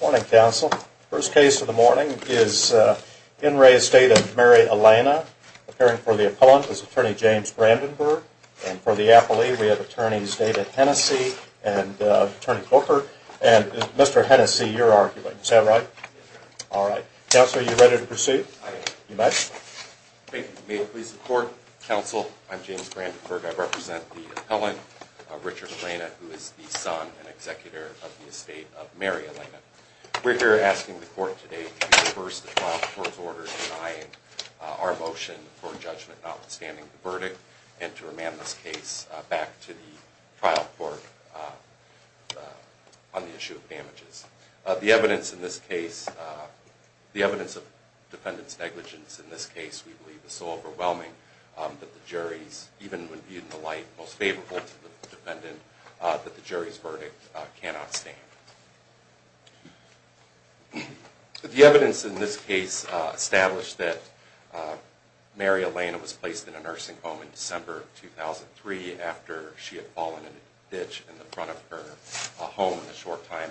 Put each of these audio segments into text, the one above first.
Morning Council. First case of the morning is in re Estate of Mary Ellena appearing for the appellant is attorney James Brandenburg and for the appellee we have attorneys David Hennessey and attorney Booker and Mr. Hennessey you're arguing. Is that right? All right. Counselor, are you ready to proceed? I am. You must. Thank you. May it please the court. Counsel, I'm James Brandenburg. I represent the son and executor of the Estate of Mary Ellena. We're here asking the court today to reverse the trial court's order denying our motion for judgment notwithstanding the verdict and to remand this case back to the trial court on the issue of damages. The evidence in this case, the evidence of defendant's negligence in this case we believe is so overwhelming that the jury's, even when viewed in the light, most favorable to the defendant that the jury's verdict cannot stand. The evidence in this case established that Mary Ellena was placed in a nursing home in December of 2003 after she had fallen in a ditch in the front of her home in the short time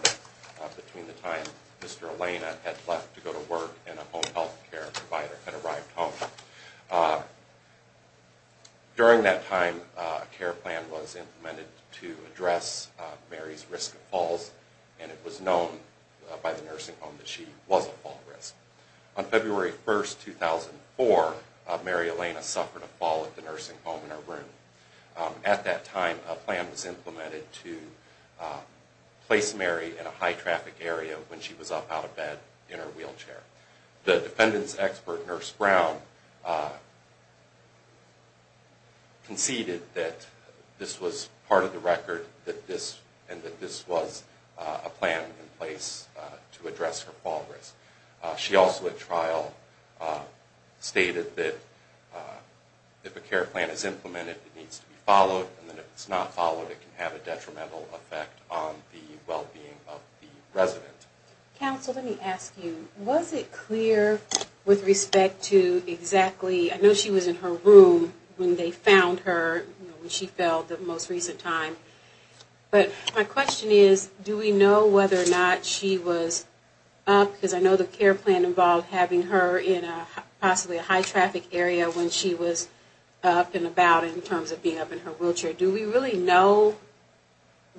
between the time Mr. Ellena had left to go to work and a home health care provider had arrived home. During that time a care plan was implemented to address Mary's risk of falls and it was known by the nursing home that she was a fall risk. On February 1st, 2004, Mary Ellena suffered a fall at the nursing home in her room. At that time a plan was implemented to place Mary in a high traffic area when she was up out of bed in her wheelchair. The defendant's expert, Nurse Brown, conceded that this was part of the record and that this was a plan in place to address her fall risk. She also at trial stated that if a care plan is implemented it needs to be followed and if it's not followed it can have a detrimental effect on the well-being of the resident. Counsel, let me ask you, was it clear with respect to exactly, I know she was in her room when they found her when she fell the most recent time, but my question is do we know whether or not she was up, because I know the care plan involved having her in a possibly a high traffic area when she was up and about in terms of being up in her wheelchair, do we really know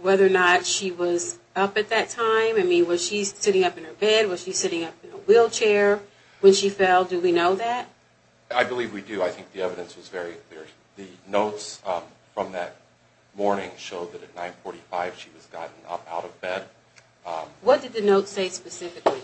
whether or not she was up at that time? I mean was she sitting up in her bed, was she sitting up in her wheelchair when she fell, do we know that? I believe we do, I think the evidence was very clear. The notes from that morning showed that at 9.45 she was gotten up out of bed. What did the notes say specifically?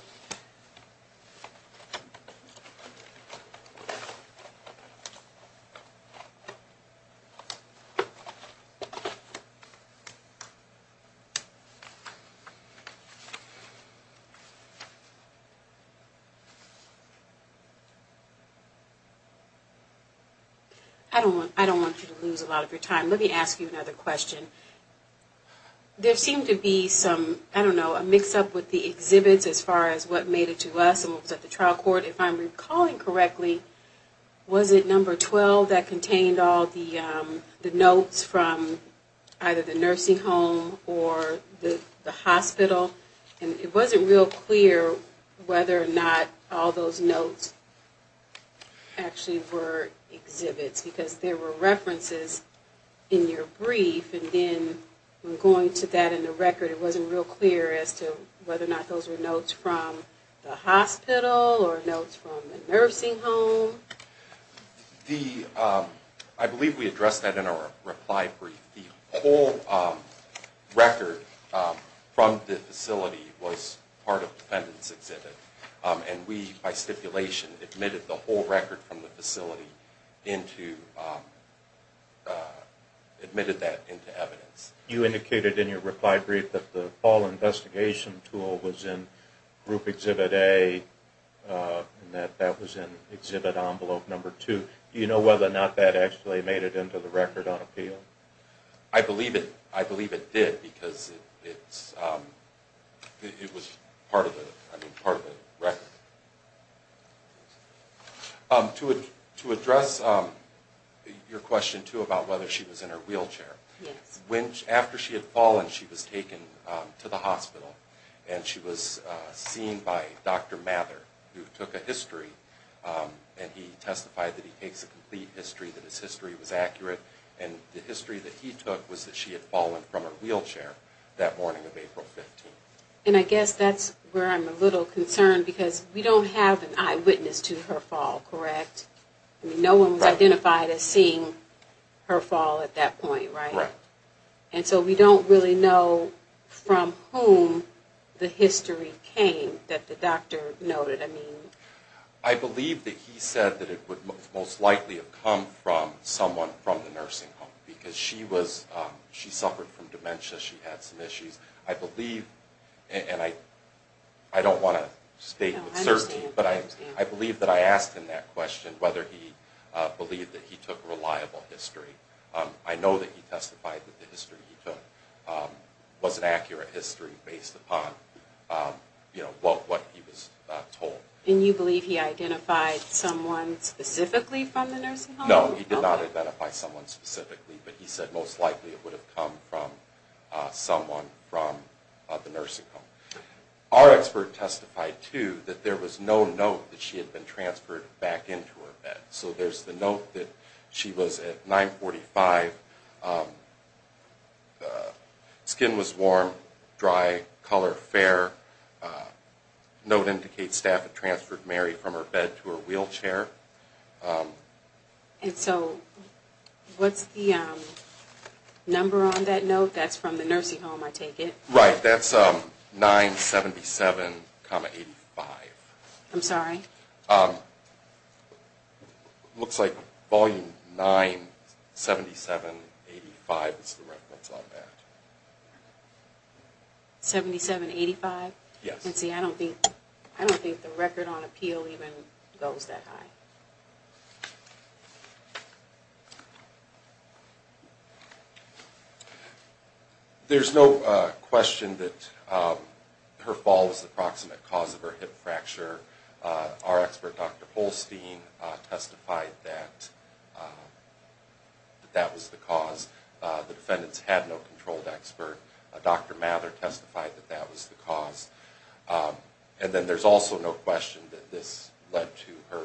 I don't want you to lose a lot of your time, let me ask you another question. There seemed to be some, I don't know, a mix up with the exhibits as far as what made it to us and what was at the trial court. If I'm recalling correctly, was it number 12 that contained all the notes from either the nursing home or the hospital? And it wasn't real clear whether or not all those notes actually were exhibits, because there were references in your brief and then going to that in the record it wasn't real clear as to whether or not those were notes from the hospital or notes from the nursing home. I believe we addressed that in our reply brief. The whole record from the facility was part of the defendant's exhibit and we, by stipulation, admitted the whole record from the facility into evidence. You indicated in your reply brief that the fall investigation tool was in group exhibit A and that that was in exhibit envelope number 2. Do you know whether or not that actually made it into the record on appeal? I believe it did because it was part of the record. To address your question too about whether she was in her wheelchair, after she had fallen she was taken to the hospital and she was seen by Dr. Mather who took a history and he testified that he takes a complete history, that his history was accurate and the history that he took was that she had fallen from her wheelchair that morning of April 15th. And I guess that's where I'm a little concerned because we don't have an eyewitness to her fall, correct? No one was identified as seeing her fall at that point, right? Right. And so we don't really know from whom the history came that the doctor noted. I believe that he said that it would most likely have come from someone from the nursing home because she suffered from dementia, she had some issues. I believe, and I don't want to state with certainty, but I believe that I asked him that question whether he believed that he took reliable history. I know that he testified that the history he took was an accurate history based upon what he was told. And you believe he identified someone specifically from the nursing home? No, he did not identify someone specifically, but he said most likely it would have come from someone from the nursing home. Our expert testified too that there was no note that she had been transferred back into her bed. So there's the note that she was at 945, skin was warm, dry, color fair, note indicates staff had transferred Mary from her bed to her wheelchair. And so what's the number on that note that's from the nursing home, I take it? Right, that's 977, 85. I'm sorry? Looks like volume 977, 85 is the reference on that. 77, 85? Yes. I don't think the record on appeal even goes that high. There's no question that her fall was the proximate cause of her hip fracture. Our expert, Dr. Holstein, testified that that was the cause. The defendants had no controlled expert. Dr. Mather testified that that was the cause. And then there's also no question that this led to her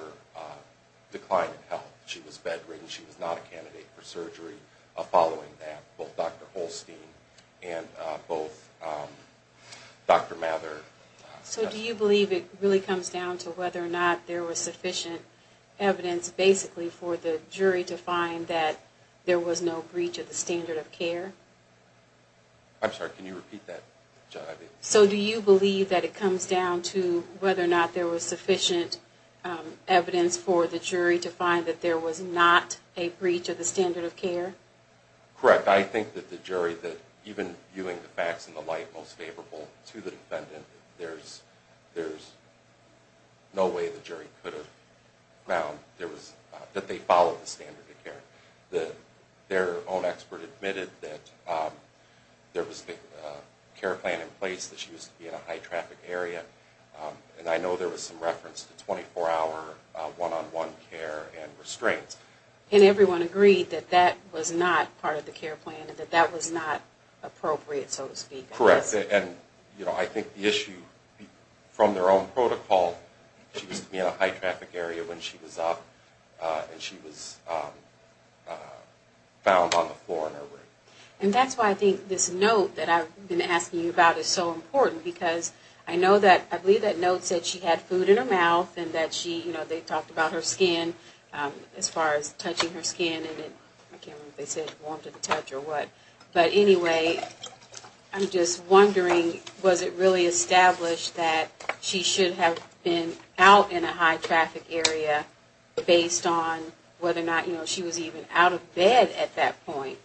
decline in health. She was bedridden, she was not a candidate for surgery following that, both Dr. Holstein and both Dr. Mather. So do you believe it really comes down to whether or not there was sufficient evidence basically for the jury to find that there was no breach of the standard of care? I'm sorry, can you repeat that? So do you believe that it comes down to whether or not there was sufficient evidence for the jury to find that there was not a breach of the standard of care? Correct. I think that the jury, even viewing the facts in the light most favorable to the defendant, there's no way the jury could have found that they followed the standard of care. Their own expert admitted that there was a care plan in place that she was to be in a high-traffic area. And I know there was some reference to 24-hour, one-on-one care and restraints. And everyone agreed that that was not part of the care plan and that that was not appropriate, so to speak. Correct. And I think the issue from their own protocol, she was to be in a high-traffic area when she was up and she was found on the floor in her room. And that's why I think this note that I've been asking you about is so important, because I know that, I believe that note said she had food in her mouth and that she, you know, they talked about her skin as far as touching her skin, and I can't remember if they said warm to the touch or what. But anyway, I'm just wondering, was it really established that she should have been out in a high-traffic area based on whether or not she was even out of bed at that point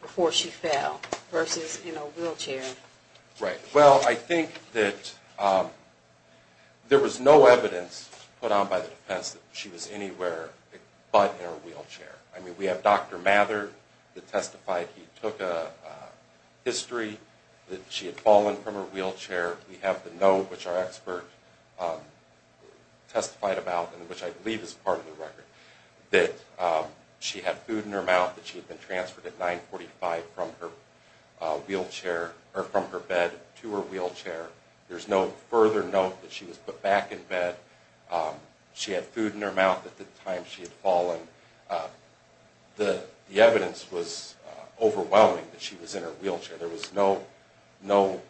before she fell versus in a wheelchair? Right. Well, I think that there was no evidence put out by the defense that she was anywhere but in a wheelchair. I mean, we have Dr. Mather that testified he took a history that she had fallen from a wheelchair. We have the note which our expert testified about, and which I believe is part of the record, that she had food in her mouth, that she had been transferred at 945 from her wheelchair, or from her bed to her wheelchair. There's no further note that she was put back in bed. She had food in her mouth at the time she had fallen. The evidence was overwhelming that she was in her wheelchair. There was no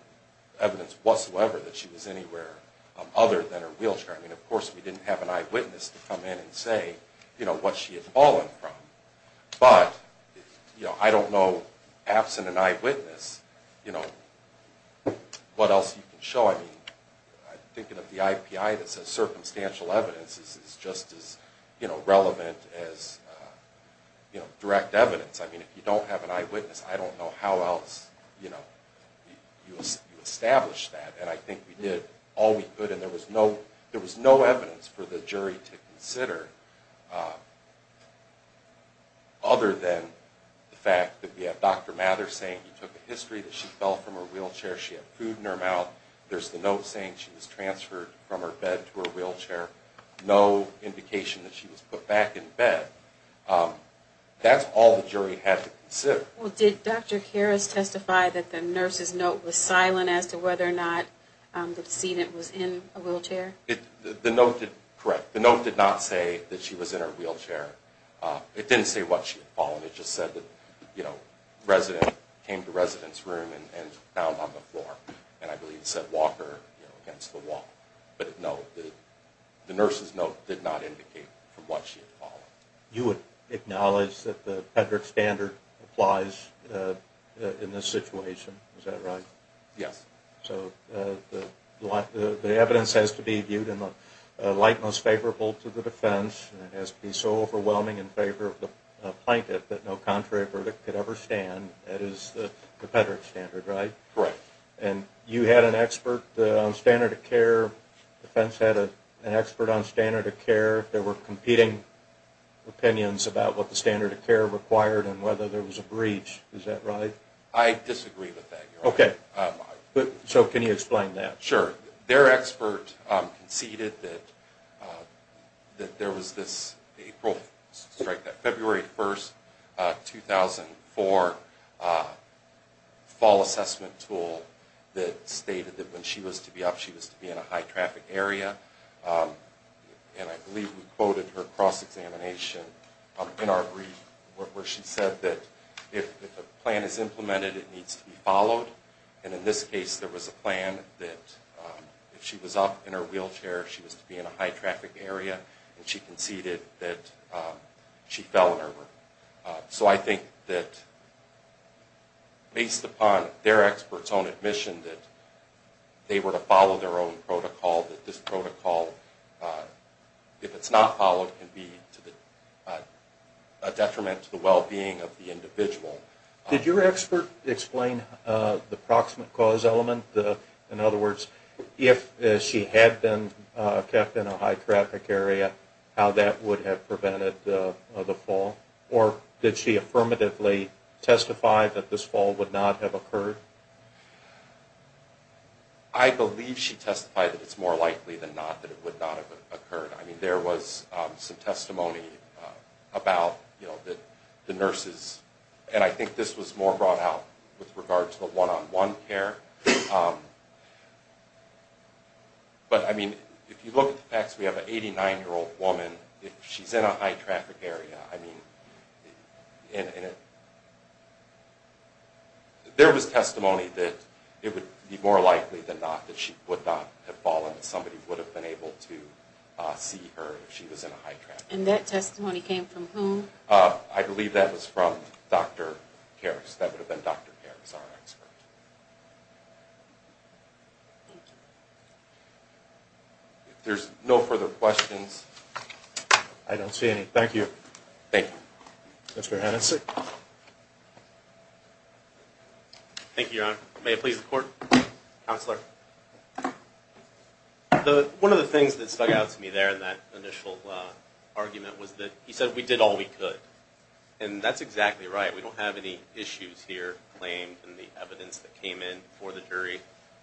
evidence whatsoever that she was anywhere other than her wheelchair. I mean, of course, we didn't have an eyewitness to come in and say, you know, what she had fallen from. But, you know, I don't know, absent an eyewitness, you know, what else you can show. I mean, thinking of the IPI that says circumstantial evidence is just as, you know, relevant as direct evidence. I mean, if you don't have an eyewitness, I don't know how else, you know, you establish that. And I think we did all we could, and there was no evidence for the jury to consider other than the fact that we have Dr. Mather saying he took a history that she fell from her wheelchair, she had food in her mouth, there's the note saying she was transferred from her bed to her wheelchair, no indication that she was put back in bed. That's all the jury had to consider. Well, did Dr. Harris testify that the nurse's note was silent as to whether or not the decedent was in a wheelchair? The note did not say that she was in her wheelchair. It didn't say what she had fallen, it just said that, you know, the resident came to the resident's room and found on the floor, and I believe it said, Walker, you know, against the wall. But no, the nurse's note did not indicate from what she had fallen. You would acknowledge that the Pedrick standard applies in this situation, is that right? Yes. So, the evidence has to be viewed in the light most favorable to the defense, and it has to be so overwhelming in favor of the plaintiff that no contrary verdict could ever stand, that is the Pedrick standard, right? Correct. And you had an expert on standard of care, the defense had an expert on standard of care, there were competing opinions about what the standard of care required and whether there was a breach, is that right? I disagree with that, Your Honor. Okay, so can you explain that? Sure, their expert conceded that there was this April, February 1st, 2004 fall assessment tool that stated that when she was to be up, she was to be in a high traffic area, and I believe we quoted her cross-examination in our brief, where she said that if a plan is implemented, it needs to be followed, and in this case, there was a plan that if she was up in her wheelchair, she was to be in a high traffic area, and she conceded that she fell in her work. So I think that based upon their expert's own admission that they were to follow their own protocol, that this protocol, if it's not followed, can be a detriment to the well-being of the individual. Did your expert explain the proximate cause element? In other words, if she had been kept in a high traffic area, how that would have prevented the fall? Or did she affirmatively testify that this fall would not have occurred? I believe she testified that it's more likely than not that it would not have occurred. There was some testimony about the nurses, and I think this was more brought out with regard to the one-on-one care, but if you look at the facts, we have an 89-year-old woman, if she's in a high traffic area, there was testimony that it would be more likely than not that she would not have fallen, that somebody would have been able to see her if she was in a high traffic area. And that testimony came from whom? I believe that was from Dr. Karras. That would have been Dr. Karras, our expert. Thank you. If there's no further questions... I don't see any. Thank you. Thank you. Mr. Hennessey? Thank you, Your Honor. May it please the Court? Counselor? One of the things that stuck out to me there in that initial argument was that he said we did all we could. And that's exactly right. We don't have any issues here claimed in the evidence that came in for the jury,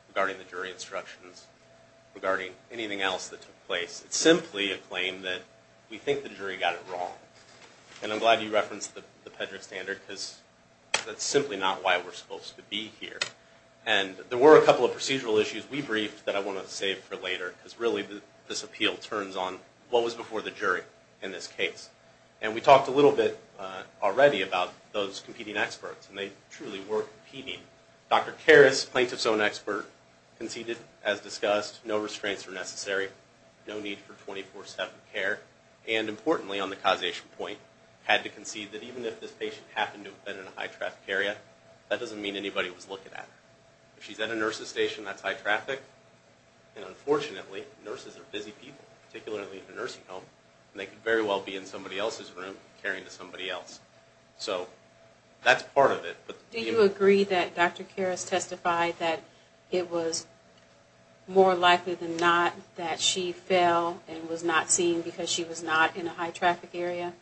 regarding the jury instructions, regarding anything else that took place. It's simply a claim that we think the jury got it wrong. And I'm glad you referenced the Pedrick Standard, because that's simply not why we're supposed to be here. And there were a couple of procedural issues we briefed that I want to save for later, because really this appeal turns on what was before the jury in this case. And we talked a little bit already about those competing experts, and they truly were competing. Dr. Karras, plaintiff's own expert, conceded, as discussed, no restraints were necessary, no need for 24-7 care, and importantly on the causation point, had to concede that even if this patient happened to have been in a high-traffic area, that doesn't mean anybody was looking at her. If she's at a nurse's station, that's high traffic. And unfortunately, nurses are busy people, particularly in a nursing home, and they could very well be in somebody else's room, caring to somebody else. So that's part of it. Do you agree that Dr. Karras testified that it was more likely than not that she fell and was not seen because she was not in a high-traffic area?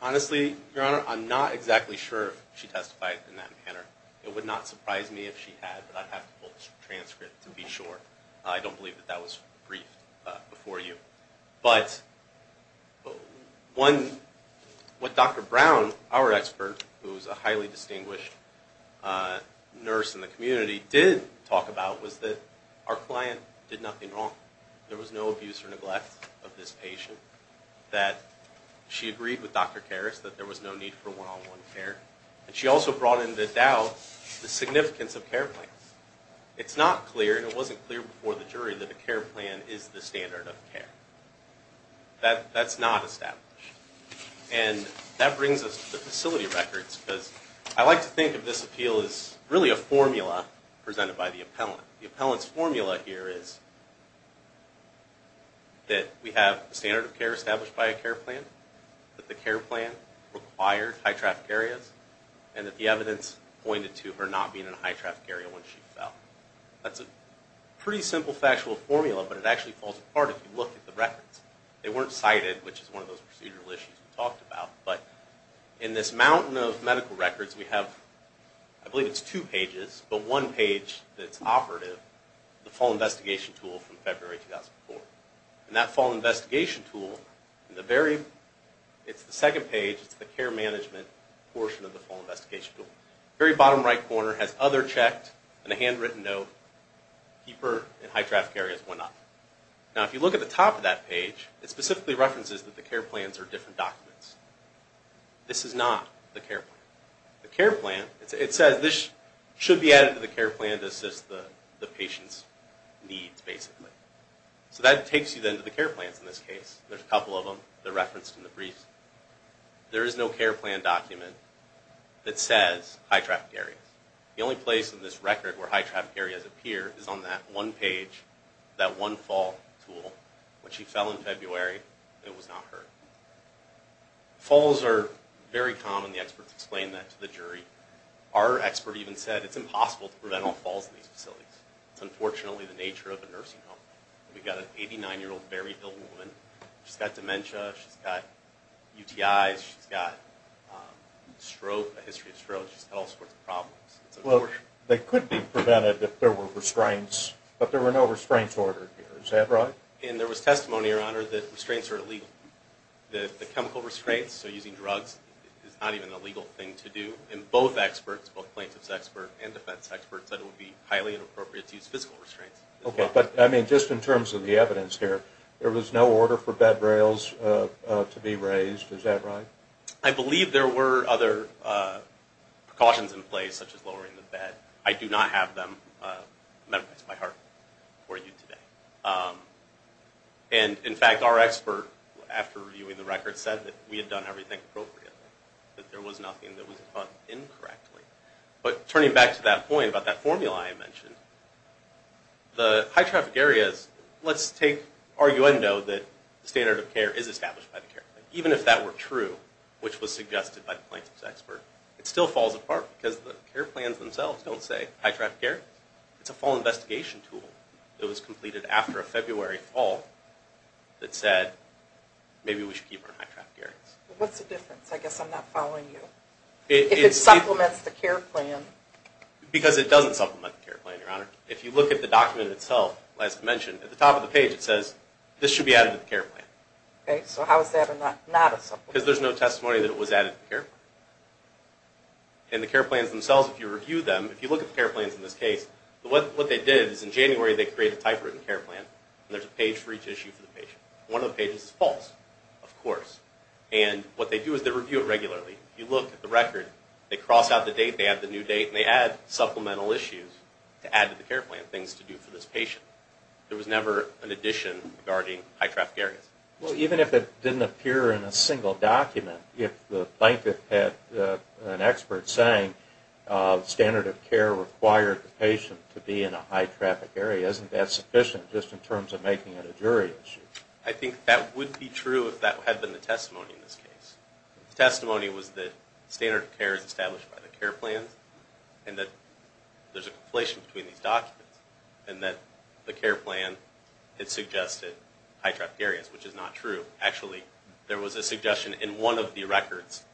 Honestly, Your Honor, I'm not exactly sure if she testified in that manner. It would not surprise me if she had, but I'd have to pull the transcript to be sure. I don't believe that that was briefed before you. But what Dr. Brown, our expert, who is a highly distinguished nurse in the community, did talk about was that our client did nothing wrong. There was no abuse or neglect of this patient, that she agreed with Dr. Karras that there was no need for one-on-one care, and she also brought into doubt the significance of care plans. It's not clear, and it wasn't clear before the jury, that a care plan is the standard of care. That's not established. And that brings us to the facility records, because I like to think of this appeal as really a formula presented by the appellant. The appellant's formula here is that we have a standard of care established by a care plan, that the care plan required high-traffic areas, and that the evidence pointed to her not being in a high-traffic area when she fell. That's a pretty simple factual formula, but it actually falls apart if you look at the records. They weren't cited, which is one of those procedural issues we talked about. But in this mountain of medical records, we have, I believe it's two pages, but one page that's operative, the fall investigation tool from February 2004. And that fall investigation tool, it's the second page, it's the care management portion of the fall investigation tool. Very bottom right corner has other checked, and a handwritten note, keeper in high-traffic areas went up. Now if you look at the top of that page, it specifically references that the care plans are different documents. This is not the care plan. The care plan, it says this should be added to the care plan to assist the patient's needs, basically. So that takes you then to the care plans in this case. There's a couple of them that are referenced in the briefs. There is no care plan document that says high-traffic areas. The only place in this record where high-traffic areas appear is on that one page, that one fall tool, when she fell in February and was not hurt. Falls are very common. The experts explain that to the jury. Our expert even said it's impossible to prevent all falls in these facilities. It's unfortunately the nature of a nursing home. We've got an 89-year-old very ill woman. She's got dementia. She's got UTIs. She's got a history of strokes. She's got all sorts of problems. Well, they could be prevented if there were restraints, but there were no restraints ordered here. Is that right? And there was testimony, Your Honor, that restraints are illegal. The chemical restraints, so using drugs, is not even a legal thing to do. And both experts, both plaintiff's experts and defense experts, said it would be highly inappropriate to use physical restraints. Okay, but, I mean, just in terms of the evidence here, there was no order for bed rails to be raised. Is that right? I believe there were other precautions in place, such as lowering the bed. I do not have them memorized by heart for you today. And, in fact, our expert, after reviewing the record, said that we had done everything appropriately, that there was nothing that was done incorrectly. But turning back to that point about that formula I mentioned, the high-traffic areas, let's take arguendo that the standard of care is established by the care plan. Even if that were true, which was suggested by the plaintiff's expert, it still falls apart because the care plans themselves don't say high-traffic areas. It's a full investigation tool that was completed after a February fall that said, maybe we should keep her in high-traffic areas. What's the difference? I guess I'm not following you. If it supplements the care plan. Because it doesn't supplement the care plan, Your Honor. If you look at the document itself, as I mentioned, at the top of the page it says, this should be added to the care plan. Okay, so how is that not a supplement? Because there's no testimony that it was added to the care plan. And the care plans themselves, if you review them, if you look at the care plans in this case, what they did is in January they created a typewritten care plan, and there's a page for each issue for the patient. One of the pages is false, of course. And what they do is they review it regularly. If you look at the record, they cross out the date, they add the new date, and they add supplemental issues to add to the care plan, things to do for this patient. There was never an addition regarding high-traffic areas. Well, even if it didn't appear in a single document, if the plaintiff had an expert saying standard of care required the patient to be in a high-traffic area, isn't that sufficient just in terms of making it a jury issue? I think that would be true if that had been the testimony in this case. The testimony was that standard of care is established by the care plan and that there's a conflation between these documents and that the care plan had suggested high-traffic areas, which is not true. Actually, there was a suggestion in one of the records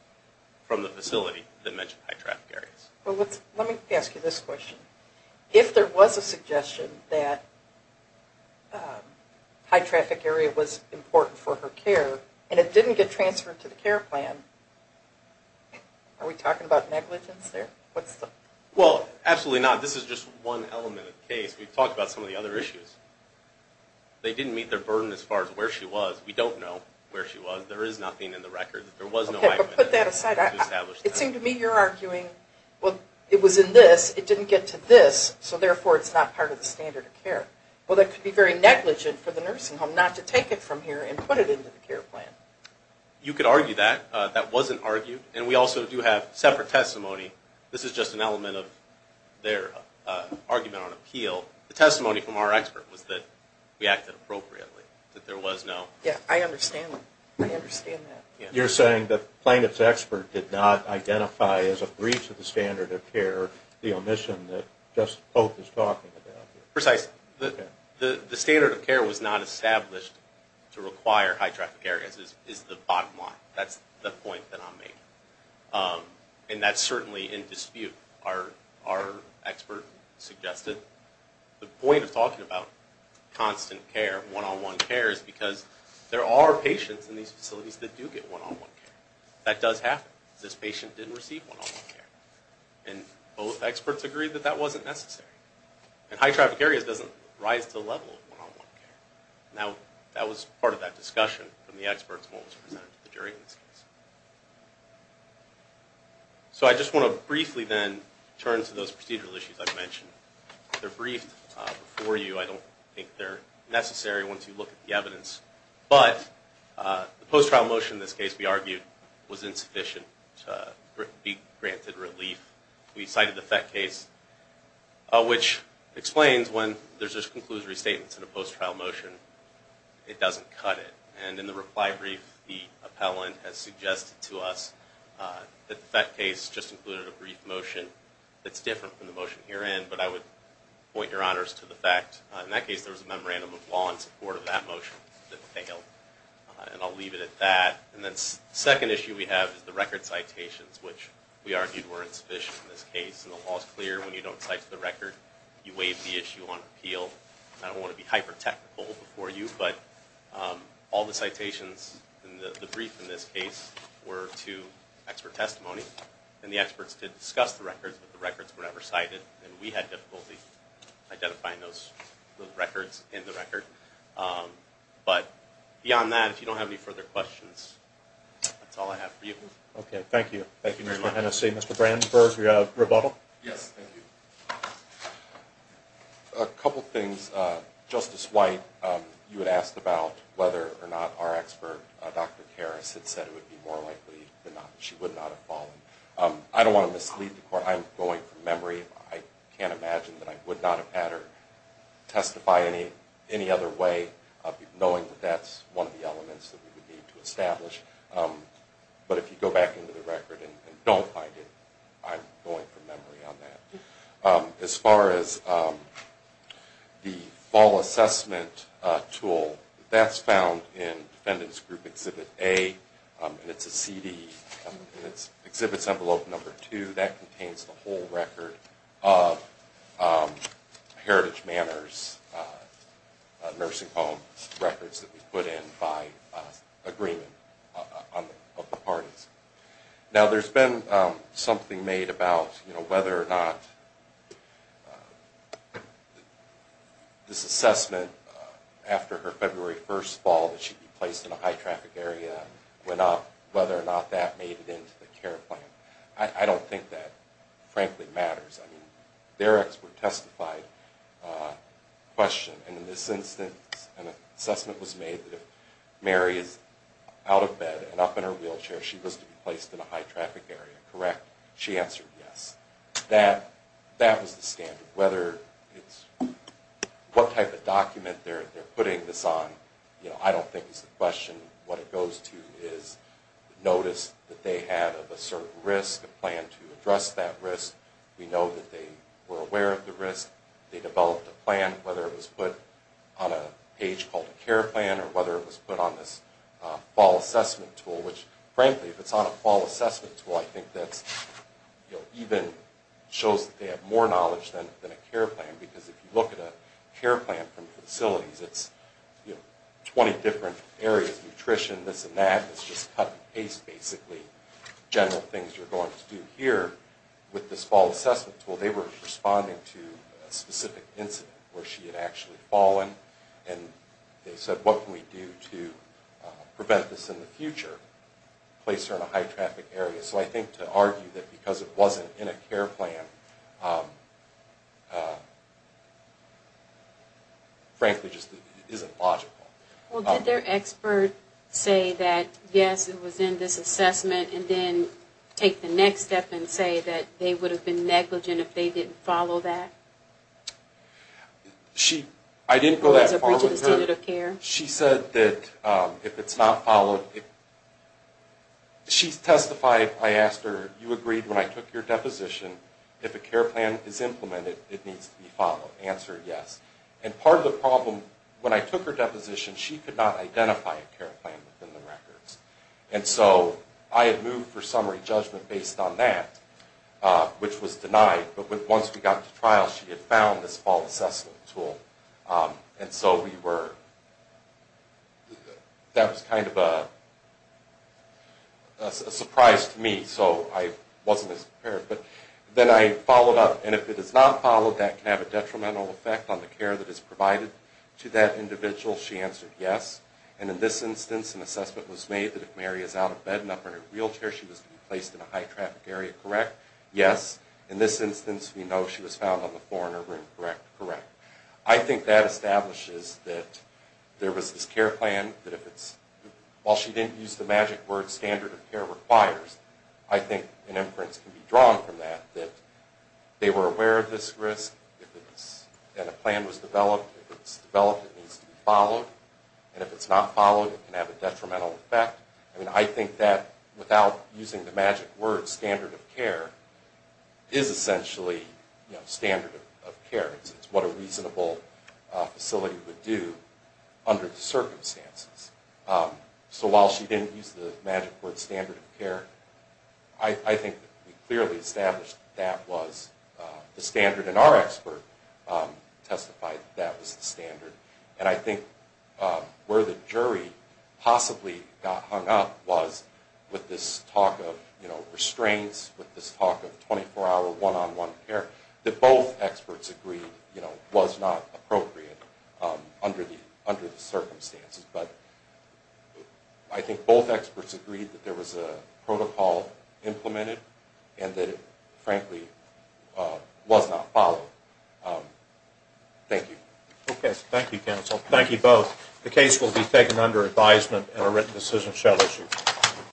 from the facility that mentioned high-traffic areas. Let me ask you this question. If there was a suggestion that a high-traffic area was important for her care and it didn't get transferred to the care plan, are we talking about negligence there? Well, absolutely not. This is just one element of the case. We've talked about some of the other issues. They didn't meet their burden as far as where she was. We don't know where she was. There is nothing in the record that there was no way to establish that. Okay, but put that aside. It seemed to me you're arguing, well, it was in this, it didn't get to this, so therefore it's not part of the standard of care. Well, that could be very negligent for the nursing home not to take it from here and put it into the care plan. You could argue that. That wasn't argued. And we also do have separate testimony. This is just an element of their argument on appeal. The testimony from our expert was that we acted appropriately, that there was no... Yeah, I understand that. You're saying the plaintiff's expert did not identify as a breach of the standard of care the omission that just both is talking about. Precisely. The standard of care was not established to require high traffic areas is the bottom line. That's the point that I'm making. And that's certainly in dispute, our expert suggested. The point of talking about constant care, one-on-one care, is because there are patients in these facilities that do get one-on-one care. That does happen. This patient didn't receive one-on-one care. And both experts agree that that wasn't necessary. And high traffic areas doesn't rise to the level of one-on-one care. Now, that was part of that discussion from the experts and what was presented to the jury in this case. So I just want to briefly then turn to those procedural issues I've mentioned. They're briefed before you. I don't think they're necessary once you look at the evidence. But the post-trial motion in this case, we argued, was insufficient to be granted relief. We cited the FET case, which explains when there's just conclusory statements in a post-trial motion, it doesn't cut it. And in the reply brief, the appellant has suggested to us that the FET case just included a brief motion that's different from the motion herein. But I would point your honors to the fact, in that case, there was a memorandum of law in support of that motion that failed. And I'll leave it at that. And then the second issue we have is the record citations, which we argued were insufficient in this case. And the law is clear. When you don't cite to the record, you waive the issue on appeal. I don't want to be hyper-technical before you, but all the citations in the brief in this case were to expert testimony. And the experts did discuss the records, but the records were never cited. And we had difficulty identifying those records in the record. But beyond that, if you don't have any further questions, that's all I have for you. Okay. Thank you. Thank you very much. Thank you, Mr. Hennessey. Mr. Brandsburg, we got a rebuttal? Yes, thank you. A couple things. Justice White, you had asked about whether or not our expert, Dr. Harris, had said it would be more likely than not that she would not have fallen. I don't want to mislead the court. I'm going from memory. I can't imagine that I would not have had her testify any other way, knowing that that's one of the elements that we would need to establish. But if you go back into the record and don't find it, I'm going from memory on that. As far as the fall assessment tool, that's found in Defendant's Group Exhibit A, and it's a CD. In Exhibit Envelope No. 2, that contains the whole record of Heritage Manors nursing home records that we put in by agreement of the parties. Now, there's been something made about whether or not this assessment after her February 1st fall that she'd be placed in a high-traffic area went up, whether or not that made it into the care plan. I don't think that, frankly, matters. I mean, their expert testified the question. And in this instance, an assessment was made that if Mary is out of bed and up in her wheelchair, she was to be placed in a high-traffic area. Correct? She answered yes. That was the standard. Whether it's what type of document they're putting this on, I don't think is the question. What it goes to is the notice that they have of a certain risk, a plan to address that risk. We know that they were aware of the risk. They developed a plan, whether it was put on a page called a care plan or whether it was put on this fall assessment tool, which, frankly, if it's on a fall assessment tool, I think that even shows that they have more knowledge than a care plan, because if you look at a care plan from facilities, it's 20 different areas, nutrition, this and that. It's just cut and paste, basically, general things you're going to do here with this fall assessment tool. They were responding to a specific incident where she had actually fallen, and they said, what can we do to prevent this in the future, place her in a high-traffic area? So I think to argue that because it wasn't in a care plan, frankly, just isn't logical. Well, did their expert say that, yes, it was in this assessment, and then take the next step and say that they would have been negligent if they didn't follow that? I didn't go that far with her. She said that if it's not followed, she testified, I asked her, you agreed when I took your deposition, if a care plan is implemented, it needs to be followed. Answered yes. And part of the problem, when I took her deposition, she could not identify a care plan within the records. And so I had moved for summary judgment based on that, which was denied. But once we got to trial, she had found this fall assessment tool. And so that was kind of a surprise to me, so I wasn't as prepared. But then I followed up. And if it is not followed, that can have a detrimental effect on the care that is provided to that individual. She answered yes. And in this instance, an assessment was made that if Mary is out of bed and up in her wheelchair, she was to be placed in a high-traffic area, correct? Yes. In this instance, we know she was found on the floor in her room, correct? Correct. I think that establishes that there was this care plan that if it's, while she didn't use the magic word standard of care requires, I think an inference can be drawn from that, that they were aware of this risk, that a plan was developed. If it's developed, it needs to be followed. And if it's not followed, it can have a detrimental effect. I mean, I think that without using the magic word standard of care is essentially standard of care. It's what a reasonable facility would do under the circumstances. So while she didn't use the magic word standard of care, I think we clearly established that that was the standard, and our expert testified that that was the standard. And I think where the jury possibly got hung up was with this talk of restraints, with this talk of 24-hour one-on-one care, that both experts agreed was not appropriate under the circumstances. But I think both experts agreed that there was a protocol implemented and that it, frankly, was not followed. Thank you. Okay. Thank you, counsel. Thank you both. The case will be taken under advisement and a written decision shall issue.